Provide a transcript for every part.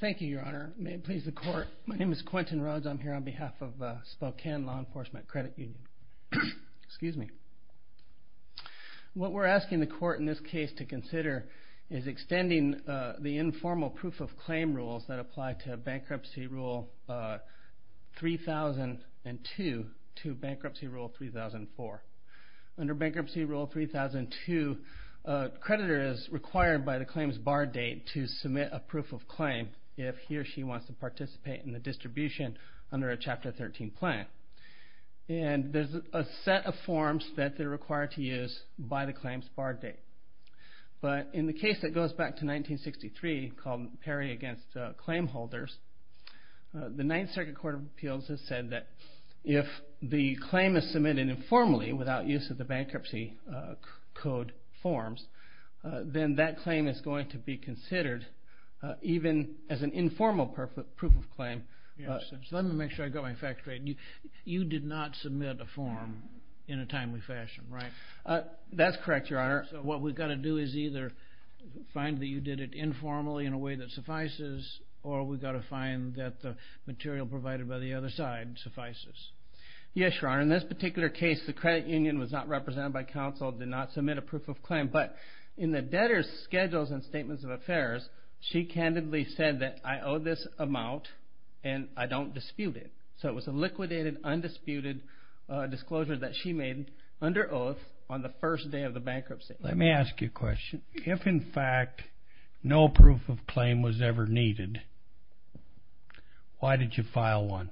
Thank you Your Honor. May it please the court. My name is Quentin Rhodes. I'm here on behalf of Spokane Law Enforcement Credit Union. What we're asking the court in this case to consider is extending the informal proof of claim rules that apply to bankruptcy rule 3002 to bankruptcy rule 3004. Under bankruptcy rule 3002 a creditor is required by the claims bar date to submit a proof of claim if he or she wants to participate in the distribution under a chapter 13 plan. And there's a set of forms that they're required to use by the claims bar date. But in the case that goes back to 1963 called Perry v. Claimholders, the 9th Circuit Court of Appeals has said that if the claim is submitted informally without use of the bankruptcy code forms, then that claim is going to be considered even as an informal proof of claim. Let me make sure I got my facts right. You did not submit a form in a timely fashion, right? That's correct, Your Honor. What we've got to do is either find that you did it informally in a way that suffices or we've got to find that the material provided by the other side suffices. Yes, Your Honor. In this particular case the credit union was not represented by counsel, did not submit a proof of claim. But in the debtor's schedules and statements of affairs, she candidly said that I owe this amount and I don't dispute it. So it was a liquidated, undisputed disclosure that she made under oath on the first day of the bankruptcy. Let me ask you a question. If, in fact, no proof of claim was ever needed, why did you file one?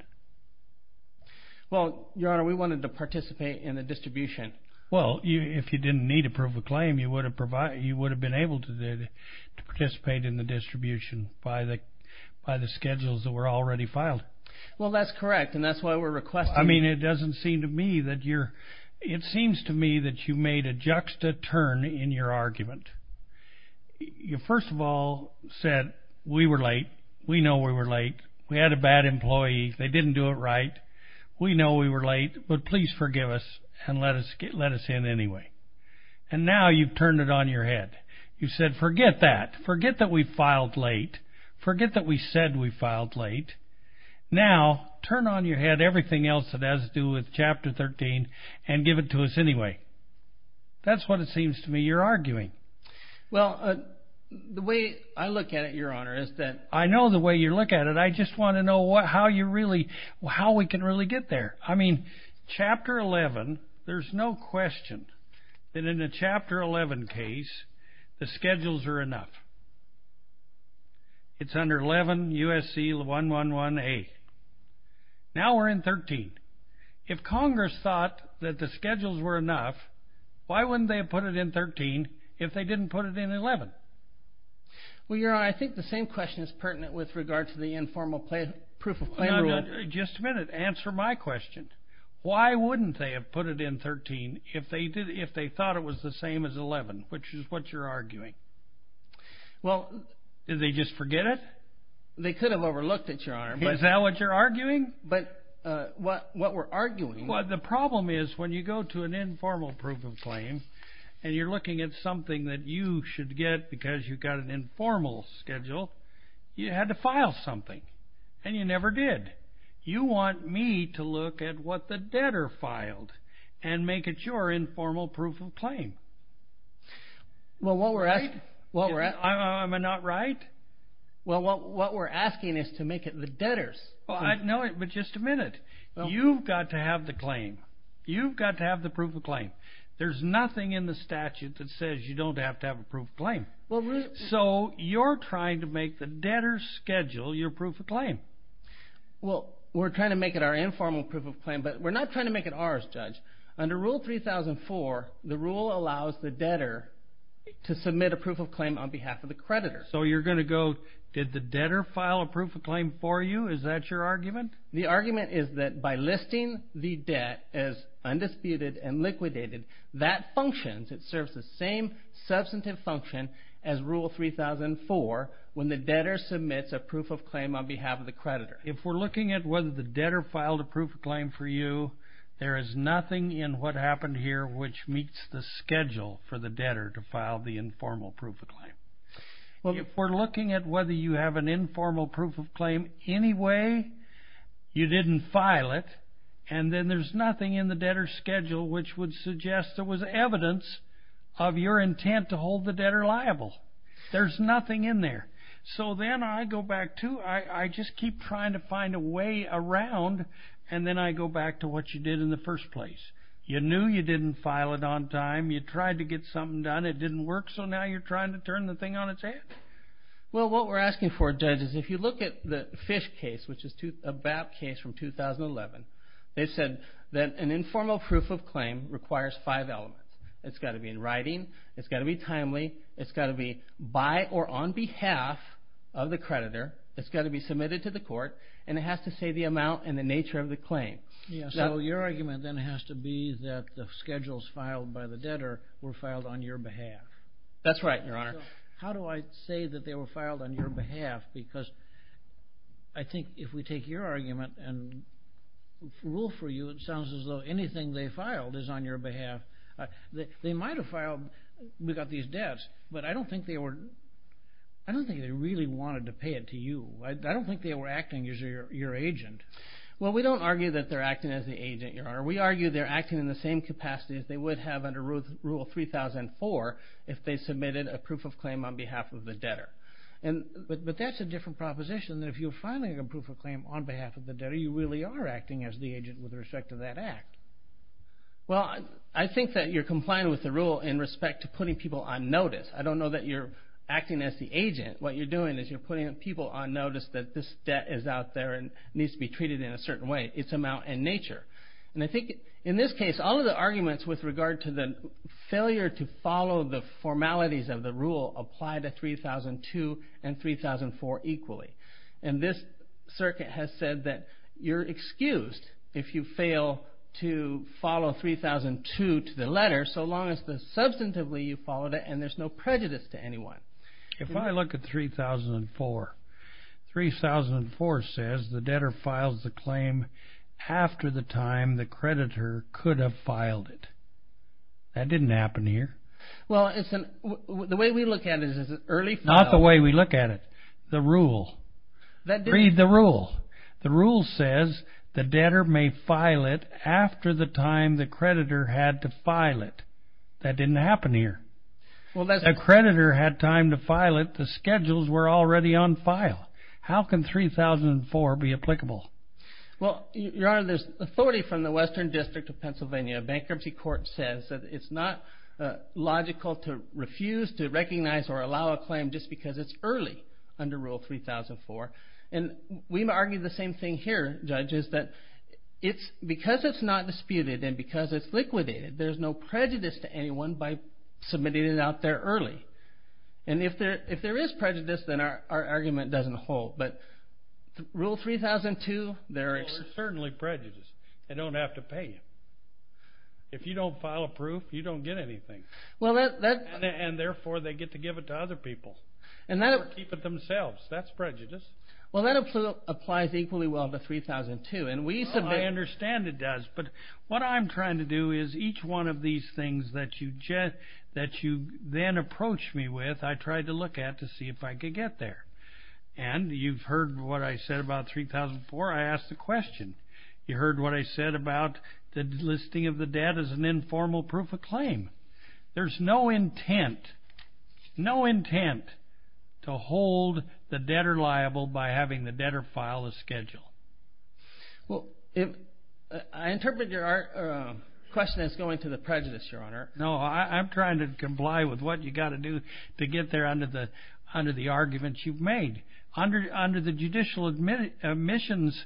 Well, Your Honor, we wanted to participate in the distribution. Well, if you didn't need a proof of claim, you would have been able to participate in the distribution by the schedules that were already filed. Well, that's correct, and that's why we're requesting it. I mean, it doesn't seem to me that you're, it seems to me that you made a juxta turn in your argument. You first of all said, we were late, we know we were late, we had a bad employee, they didn't do it right, we know we were late, but please forgive us and let us in anyway. And now you've turned it on your head. You've said, forget that, forget that we filed late, forget that we said we filed late, now turn on your head everything else that has to do with Chapter 13 and give it to us anyway. That's what it seems to me you're arguing. Well, the way I look at it, Your Honor, is that... I know the way you look at it, I just want to know how you really, how we can really get there. I mean, Chapter 11, there's no question that in a Chapter 11 case, the schedules are enough. It's under 11 U.S.C. 111A. Now we're in 13. If Congress thought that the schedules were enough, why wouldn't they have put it in 13 if they didn't put it in 11? Well, Your Honor, I think the same question is pertinent with regard to the informal proof of claim rule. Just a minute. Answer my question. Why wouldn't they have put it in 13 if they thought it was the same as 11, which is what you're arguing? Well... Did they just forget it? They could have overlooked it, Your Honor, but... Is that what you're arguing? But what we're arguing... The problem is when you go to an informal proof of claim and you're looking at something that you should get because you've got an informal schedule, you had to file something, and you never did. You want me to look at what the debtor filed and make it your informal proof of claim. Well, what we're asking... Am I not right? Well, what we're asking is to make it the debtor's. No, but just a minute. You've got to have the claim. You've got to have the proof of claim. There's nothing in the statute that says you don't have to have a proof of claim. So, you're trying to make the debtor schedule your proof of claim. Well, we're trying to make it our informal proof of claim, but we're not trying to make it ours, Judge. Under Rule 3004, the rule allows the debtor to submit a proof of claim on behalf of the creditor. So, you're going to go, did the debtor file a proof of claim for you? Is that your argument? The argument is that by listing the debt as undisputed and liquidated, that functions. It serves the same substantive function as Rule 3004 when the debtor submits a proof of claim on behalf of the creditor. If we're looking at whether the debtor filed a proof of claim for you, there is nothing in what happened here which meets the schedule for the debtor to file the informal proof of claim. If we're looking at whether you have an informal proof of claim anyway, you didn't file it, and then there's nothing in the debtor's schedule which would suggest there was evidence of your intent to hold the debtor liable. There's nothing in there. So, then I go back to, I just keep trying to find a way around, and then I go back to what you did in the first place. You knew you didn't file it on time. You tried to get something done. It didn't work, so now you're trying to turn the thing on its head? Well, what we're asking for, Judge, is if you look at the Fish case, which is a BAP case from 2011, they said that an informal proof of claim requires five elements. It's got to be in writing, it's got to be timely, it's got to be by or on behalf of the creditor, it's got to be submitted to the court, and it has to say the amount and the nature of the claim. So, your argument then has to be that the schedules filed by the debtor were filed on your behalf? That's right, Your Honor. How do I say that they were filed on your behalf? Because I think if we take your argument and rule for you, it sounds as though anything they filed is on your behalf. They might have filed these debts, but I don't think they really wanted to pay it to you. I don't think they were acting as your agent. Well, we don't argue that they're acting as the agent, Your Honor. We argue they're acting in the same capacity as they would have under Rule 3004 if they submitted a proof of claim on behalf of the debtor. But that's a different proposition, that if you're filing a proof of claim on behalf of the debtor, you really are acting as the agent with respect to that act. Well, I think that you're complying with the rule in respect to putting people on notice. I don't know that you're acting as the agent. What you're doing is you're putting people on notice that this debt is out there and needs to be treated in a certain way, its amount and nature. And I think in this case, all of the arguments with regard to the failure to follow the formalities of the rule apply to 3002 and 3004 equally. And this circuit has said that you're excused if you fail to follow 3002 to the letter so long as substantively you followed it and there's no prejudice to anyone. If I look at 3004, 3004 says the debtor files the claim after the time the creditor could have filed it. That didn't happen here. Well, the way we look at it is an early file. Not the way we look at it. The rule. Read the rule. The rule says the debtor may file it after the time the creditor had to file it. That didn't happen here. If the creditor had time to file it, the schedules were already on file. How can 3004 be applicable? Well, Your Honor, there's authority from the Western District of Pennsylvania. A bankruptcy court says that it's not logical to refuse to recognize or allow a claim just because it's early under Rule 3004. And we argue the same thing here, Judge, is that because it's not disputed and because it's liquidated, there's no prejudice to anyone by submitting it out there early. And if there is prejudice, then our argument doesn't hold. But Rule 3002, there is certainly prejudice. They don't have to pay you. If you don't file a proof, you don't get anything. And therefore they get to give it to other people. Or keep it themselves. That's prejudice. Well, that applies equally well to 3002. I understand it does. But what I'm trying to do is each one of these things that you then approached me with, I tried to look at to see if I could get there. And you've heard what I said about 3004. I asked the question. You heard what I said about the listing of the debt as an informal proof of claim. There's no intent to hold the debtor liable by having the debtor file a schedule. Well, I interpret your question as going to the prejudice, Your Honor. No, I'm trying to comply with what you've got to do to get there under the arguments you've made. Under the judicial admissions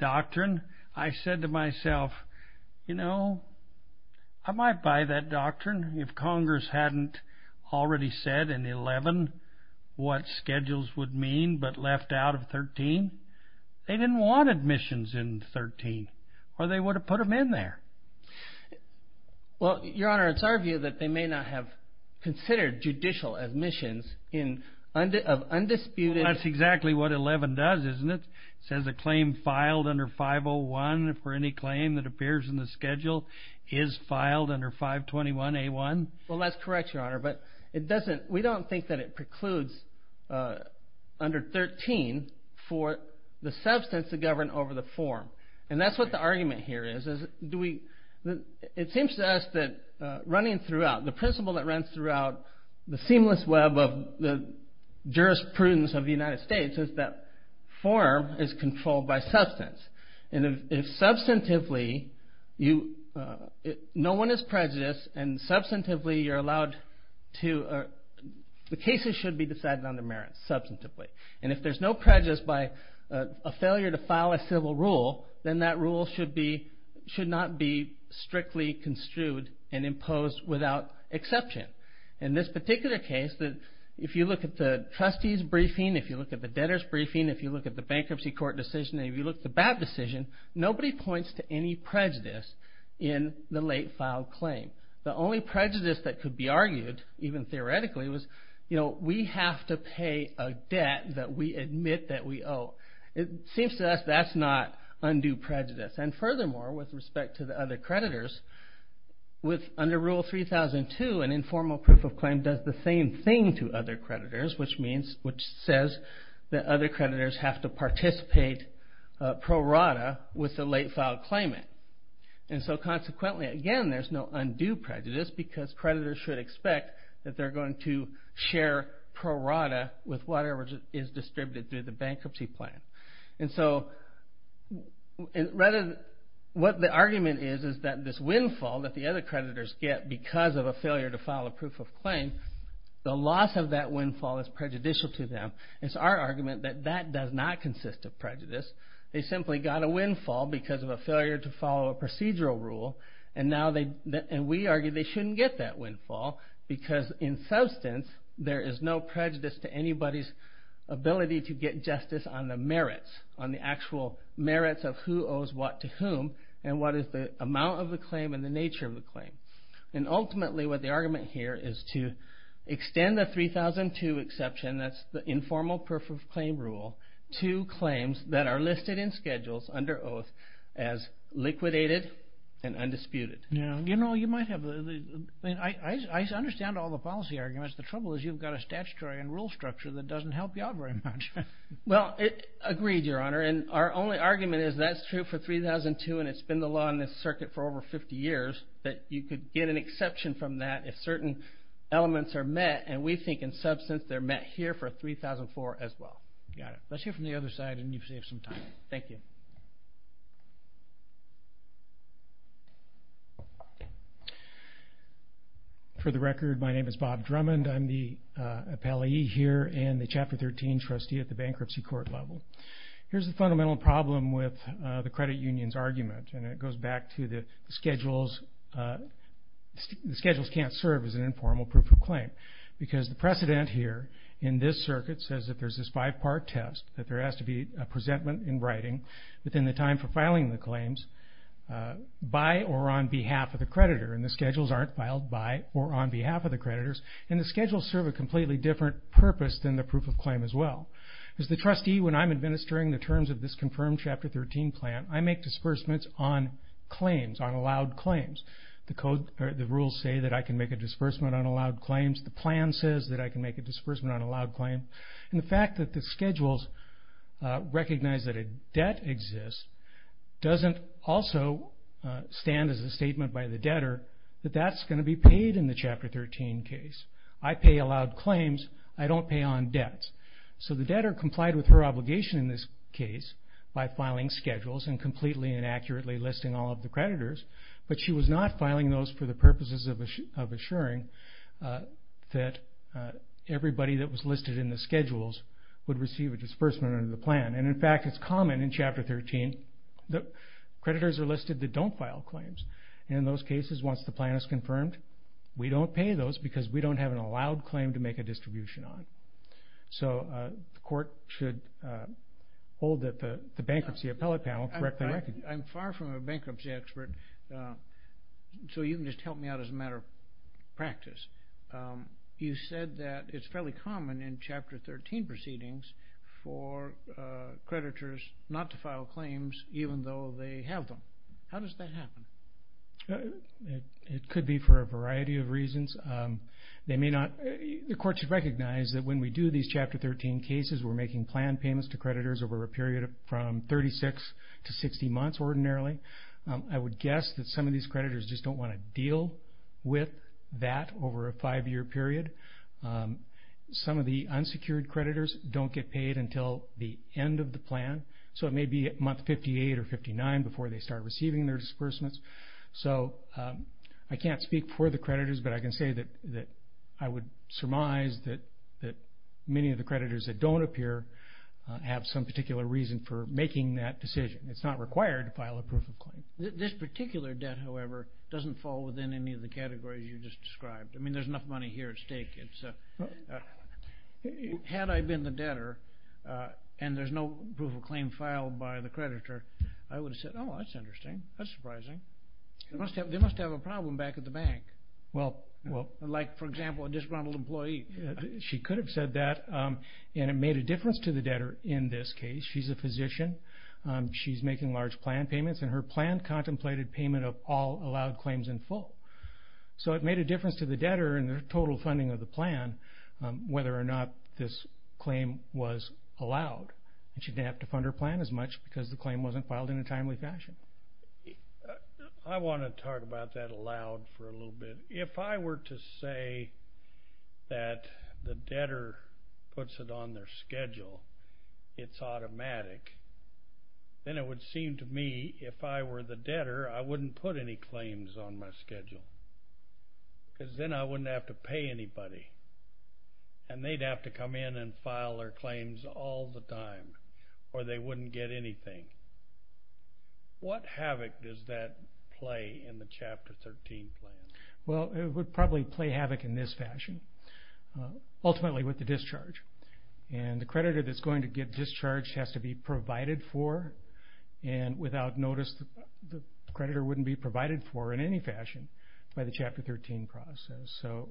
doctrine, I said to myself, you know, am I by that doctrine? If Congress hadn't already said in 11 what schedules would mean but left out of 13, they didn't want admissions in 13. Or they would have put them in there. Well, Your Honor, it's our view that they may not have considered judicial admissions of undisputed... That's exactly what 11 does, isn't it? It says a claim filed under 501 for any claim that appears in the schedule is filed under 521A1. Well, that's correct, Your Honor. But we don't think that it precludes under 13 for the substance to govern over the form. And that's what the argument here is. It seems to us that running throughout, the principle that runs throughout the seamless web of the jurisprudence of the United States is that form is controlled by substance. And if substantively, no one is prejudiced and substantively you're allowed to... The cases should be decided on their merits substantively. And if there's no prejudice by a failure to file a civil rule, then that rule should not be strictly construed and imposed without exception. In this particular case, if you look at the trustee's briefing, if you look at the debtor's briefing, if you look at the bankruptcy court decision, if you look at the BAP decision, nobody points to any prejudice in the late filed claim. The only prejudice that could be argued, even theoretically, was we have to pay a debt that we admit that we owe. It seems to us that's not undue prejudice. And furthermore, with respect to the other creditors, under Rule 3002, an informal proof of claim does the same thing to other creditors, which says that other creditors have to participate pro rata with the late filed claimant. And so consequently, again, there's no undue prejudice because creditors should expect that they're going to share pro rata with whatever is distributed through the bankruptcy plan. And so what the argument is is that this windfall that the other creditors get because of a failure to file a proof of claim, the loss of that windfall is prejudicial to them. It's our argument that that does not consist of prejudice. They simply got a windfall because of a failure to follow a procedural rule, and we argue they shouldn't get that windfall because in substance, there is no prejudice to anybody's ability to get justice on the merits, on the actual merits of who owes what to whom, and what is the amount of the claim and the nature of the claim. And ultimately, what the argument here is to extend the 3002 exception, that's the informal proof of claim rule, to claims that are listed in schedules under oath as liquidated and undisputed. Now, you know, you might have, I understand all the policy arguments. The trouble is you've got a statutory and rule structure that doesn't help you out very much. Well, agreed, Your Honor, and our only argument is that's true for 3002, and it's been the law in this circuit for over 50 years that you could get an exception from that if certain elements are met, and we think in substance they're met here for 3004 as well. Got it. Let's hear from the other side, and you've saved some time. Thank you. For the record, my name is Bob Drummond. I'm the appellee here and the Chapter 13 trustee at the bankruptcy court level. Here's the fundamental problem with the credit union's argument, and it goes back to the schedules can't serve as an informal proof of claim because the precedent here in this circuit says that there's this five-part test, that there has to be a presentment in writing within the time for filing the claims by or on behalf of the creditor, and the schedules aren't filed by or on behalf of the creditors, and the schedules serve a completely different purpose than the proof of claim as well. As the trustee, when I'm administering the terms of this confirmed Chapter 13 plan, I make disbursements on claims, on allowed claims. The rules say that I can make a disbursement on allowed claims. The plan says that I can make a disbursement on allowed claims, and the fact that the schedules recognize that a debt exists doesn't also stand as a statement by the debtor that that's going to be paid in the Chapter 13 case. I pay allowed claims. I don't pay on debts, so the debtor complied with her obligation in this case by filing schedules and completely and accurately listing all of the creditors, but she was not filing those for the purposes of assuring that everybody that was listed in the schedules would receive a disbursement under the plan. In fact, it's common in Chapter 13 that creditors are listed that don't file claims. In those cases, once the plan is confirmed, we don't pay those because we don't have an allowed claim to make a distribution on. So the court should hold that the bankruptcy appellate panel correctly recognizes that. I'm far from a bankruptcy expert, so you can just help me out as a matter of practice. You said that it's fairly common in Chapter 13 proceedings for creditors not to file claims, even though they have them. How does that happen? It could be for a variety of reasons. The court should recognize that when we do these Chapter 13 cases, we're making plan payments to creditors over a period from 36 to 60 months ordinarily. I would guess that some of these creditors just don't want to deal with that over a five-year period. Some of the unsecured creditors don't get paid until the end of the plan, so it may be at month 58 or 59 before they start receiving their disbursements. So I can't speak for the creditors, but I can say that I would surmise that many of the creditors that don't appear have some particular reason for making that decision. It's not required to file a proof of claim. This particular debt, however, doesn't fall within any of the categories you just described. I mean, there's enough money here at stake. Had I been the debtor and there's no proof of claim filed by the creditor, I would have said, oh, that's interesting, that's surprising. They must have a problem back at the bank. Like, for example, a disgruntled employee. She could have said that, and it made a difference to the debtor in this case. She's a physician, she's making large plan payments, and her plan contemplated payment of all allowed claims in full. So it made a difference to the debtor in the total funding of the plan whether or not this claim was allowed. And she didn't have to fund her plan as much because the claim wasn't filed in a timely fashion. I want to talk about that aloud for a little bit. If I were to say that the debtor puts it on their schedule, it's automatic, then it would seem to me, if I were the debtor, I wouldn't put any claims on my schedule because then I wouldn't have to pay anybody, and they'd have to come in and file their claims all the time or they wouldn't get anything. What havoc does that play in the Chapter 13 plan? Well, it would probably play havoc in this fashion, ultimately with the discharge. And the creditor that's going to get discharged has to be provided for and without notice the creditor wouldn't be provided for in any fashion by the Chapter 13 process. So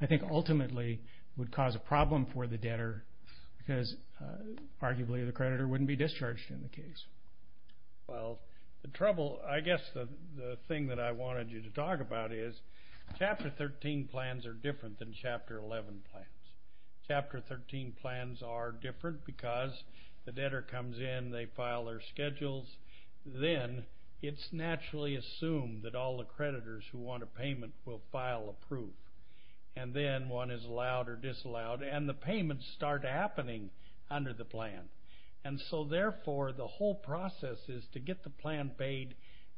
I think ultimately it would cause a problem for the debtor because arguably the creditor wouldn't be discharged in the case. Well, the trouble, I guess the thing that I wanted you to talk about is Chapter 13 plans are different than Chapter 11 plans. Chapter 13 plans are different because the debtor comes in, they file their schedules, then it's naturally assumed that all the creditors who want a payment will file approved, and then one is allowed or disallowed, and the payments start happening under the plan. And so therefore the whole process is to get the plan paid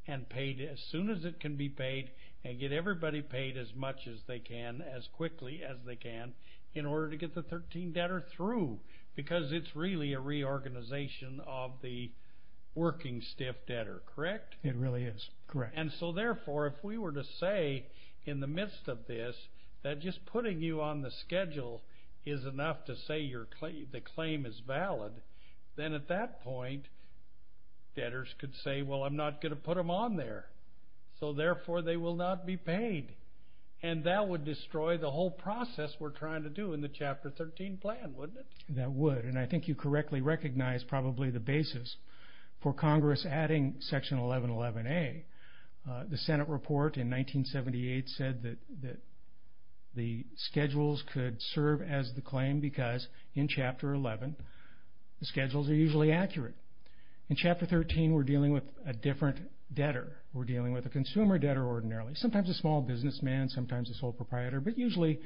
and paid as soon as it can be paid and get everybody paid as much as they can as quickly as they can in order to get the 13 debtor through because it's really a reorganization of the working stiff debtor, correct? It really is, correct. And so therefore if we were to say in the midst of this that just putting you on the schedule is enough to say the claim is valid, then at that point debtors could say, well, I'm not going to put them on there, so therefore they will not be paid. And that would destroy the whole process we're trying to do in the Chapter 13 plan, wouldn't it? That would, and I think you correctly recognize probably the basis for Congress adding Section 1111A. The Senate report in 1978 said that the schedules could serve as the claim because in Chapter 11 the schedules are usually accurate. In Chapter 13 we're dealing with a different debtor. We're dealing with a consumer debtor ordinarily, sometimes a small businessman, sometimes a sole proprietor, but usually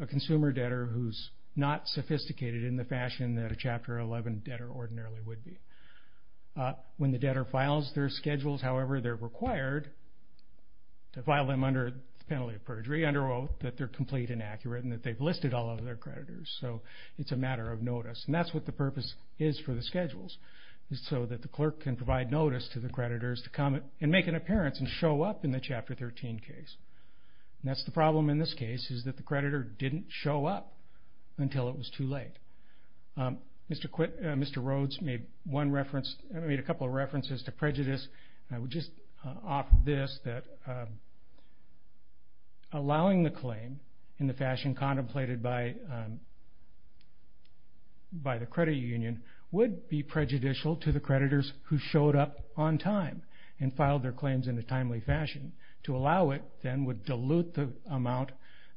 a consumer debtor who's not sophisticated in the fashion that a Chapter 11 debtor ordinarily would be. When the debtor files their schedules, however they're required, to file them under the penalty of perjury, under oath, that they're complete and accurate and that they've listed all of their creditors. So it's a matter of notice, and that's what the purpose is for the schedules is so that the clerk can provide notice to the creditors to come and make an appearance and show up in the Chapter 13 case. And that's the problem in this case is that the creditor didn't show up until it was too late. Mr. Rhodes made a couple of references to prejudice. I would just offer this, that allowing the claim in the fashion contemplated by the credit union would be prejudicial to the creditors who showed up on time and filed their claims in a timely fashion. To allow it, then, would dilute the amount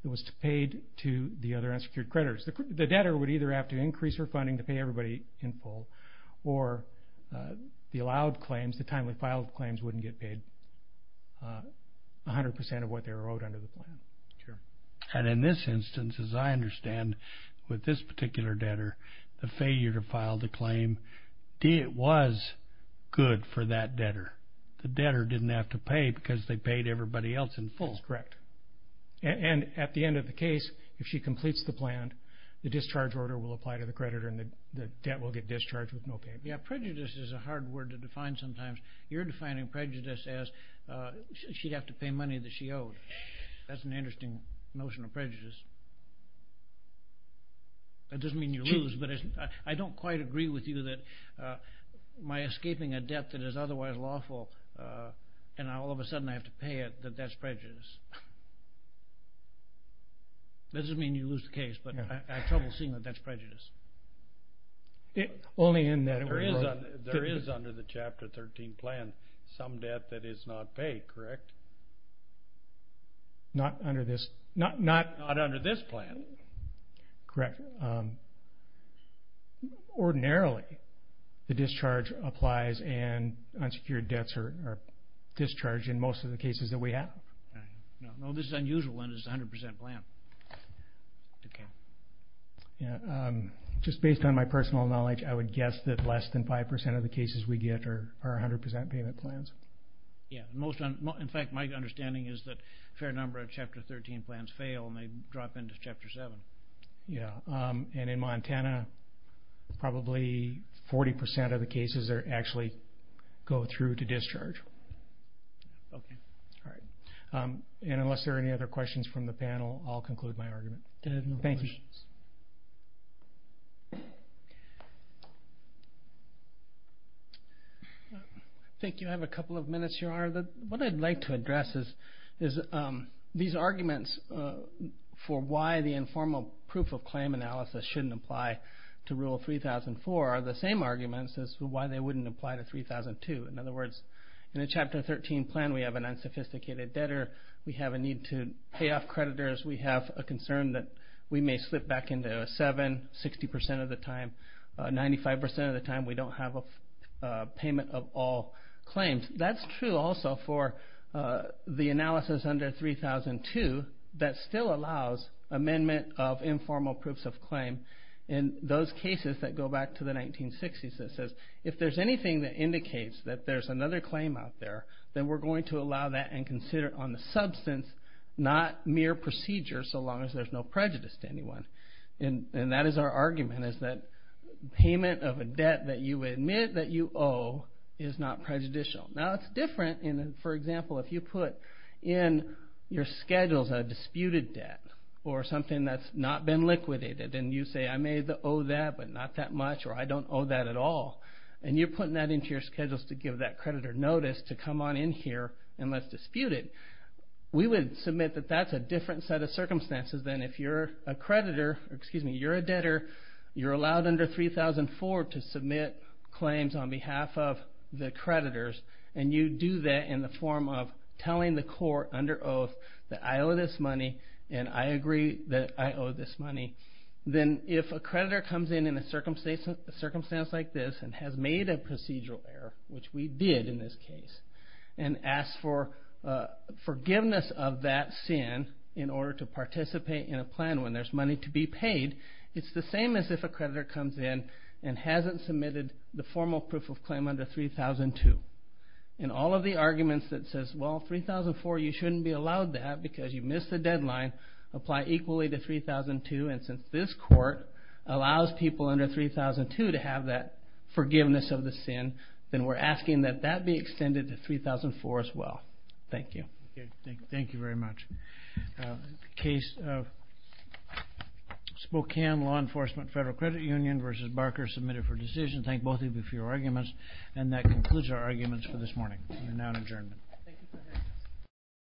that was paid to the other unsecured creditors. The debtor would either have to increase their funding to pay everybody in full, or the allowed claims, the timely filed claims wouldn't get paid 100% of what they were owed under the plan. And in this instance, as I understand, with this particular debtor, the failure to file the claim was good for that debtor. The debtor didn't have to pay because they paid everybody else in full. That's correct. And at the end of the case, if she completes the plan, the discharge order will apply to the creditor and the debt will get discharged with no payment. Yeah, prejudice is a hard word to define sometimes. You're defining prejudice as she'd have to pay money that she owed. That's an interesting notion of prejudice. That doesn't mean you lose, but I don't quite agree with you that by escaping a debt that is otherwise lawful and all of a sudden I have to pay it, that that's prejudice. It doesn't mean you lose the case, but I have trouble seeing that that's prejudice. Only in that it would work. There is under the Chapter 13 plan some debt that is not paid, correct? Not under this plan. Correct. Ordinarily, the discharge applies and unsecured debts are discharged in most of the cases that we have. No, this is unusual and it's a 100% plan. Just based on my personal knowledge, I would guess that less than 5% of the cases we get are 100% payment plans. Yeah, in fact, my understanding is that a fair number of Chapter 13 plans fail and they drop into Chapter 7. In Montana, probably 40% of the cases actually go through to discharge. Okay. All right. Unless there are any other questions from the panel, I'll conclude my argument. I have no questions. Thank you. I think you have a couple of minutes, Your Honor. What I'd like to address is these arguments for why the informal proof of claim analysis shouldn't apply to Rule 3004 are the same arguments as why they wouldn't apply to 3002. In other words, in the Chapter 13 plan, we have an unsophisticated debtor. We have a need to pay off creditors. We have a concern that we may slip back into a 7, 60% of the time. 95% of the time, we don't have a payment of all claims. That's true also for the analysis under 3002 that still allows amendment of informal proofs of claim. In those cases that go back to the 1960s, it says, if there's anything that indicates that there's another claim out there, then we're going to allow that and consider it on the substance, not mere procedure so long as there's no prejudice to anyone. That is our argument is that payment of a debt that you admit that you owe is not prejudicial. Now, it's different. For example, if you put in your schedules a disputed debt or something that's not been liquidated and you say, I may owe that but not that much or I don't owe that at all, and you're putting that into your schedules to give that creditor notice to come on in here and let's dispute it, we would submit that that's a different set of circumstances than if you're a creditor, excuse me, you're a debtor, you're allowed under 3004 to submit claims on behalf of the creditors, and you do that in the form of telling the court under oath that I owe this money and I agree that I owe this money. Then if a creditor comes in in a circumstance like this and has made a procedural error, which we did in this case, and asks for forgiveness of that sin in order to participate in a plan when there's money to be paid, it's the same as if a creditor comes in and hasn't submitted the formal proof of claim under 3002. And all of the arguments that says, well, 3004, you shouldn't be allowed that because you missed the deadline, apply equally to 3002, and since this court allows people under 3002 to have that forgiveness of the sin, then we're asking that that be extended to 3004 as well. Thank you. Thank you very much. Case of Spokane Law Enforcement Federal Credit Union v. Barker, submitted for decision. Thank both of you for your arguments, and that concludes our arguments for this morning. We're now in adjournment.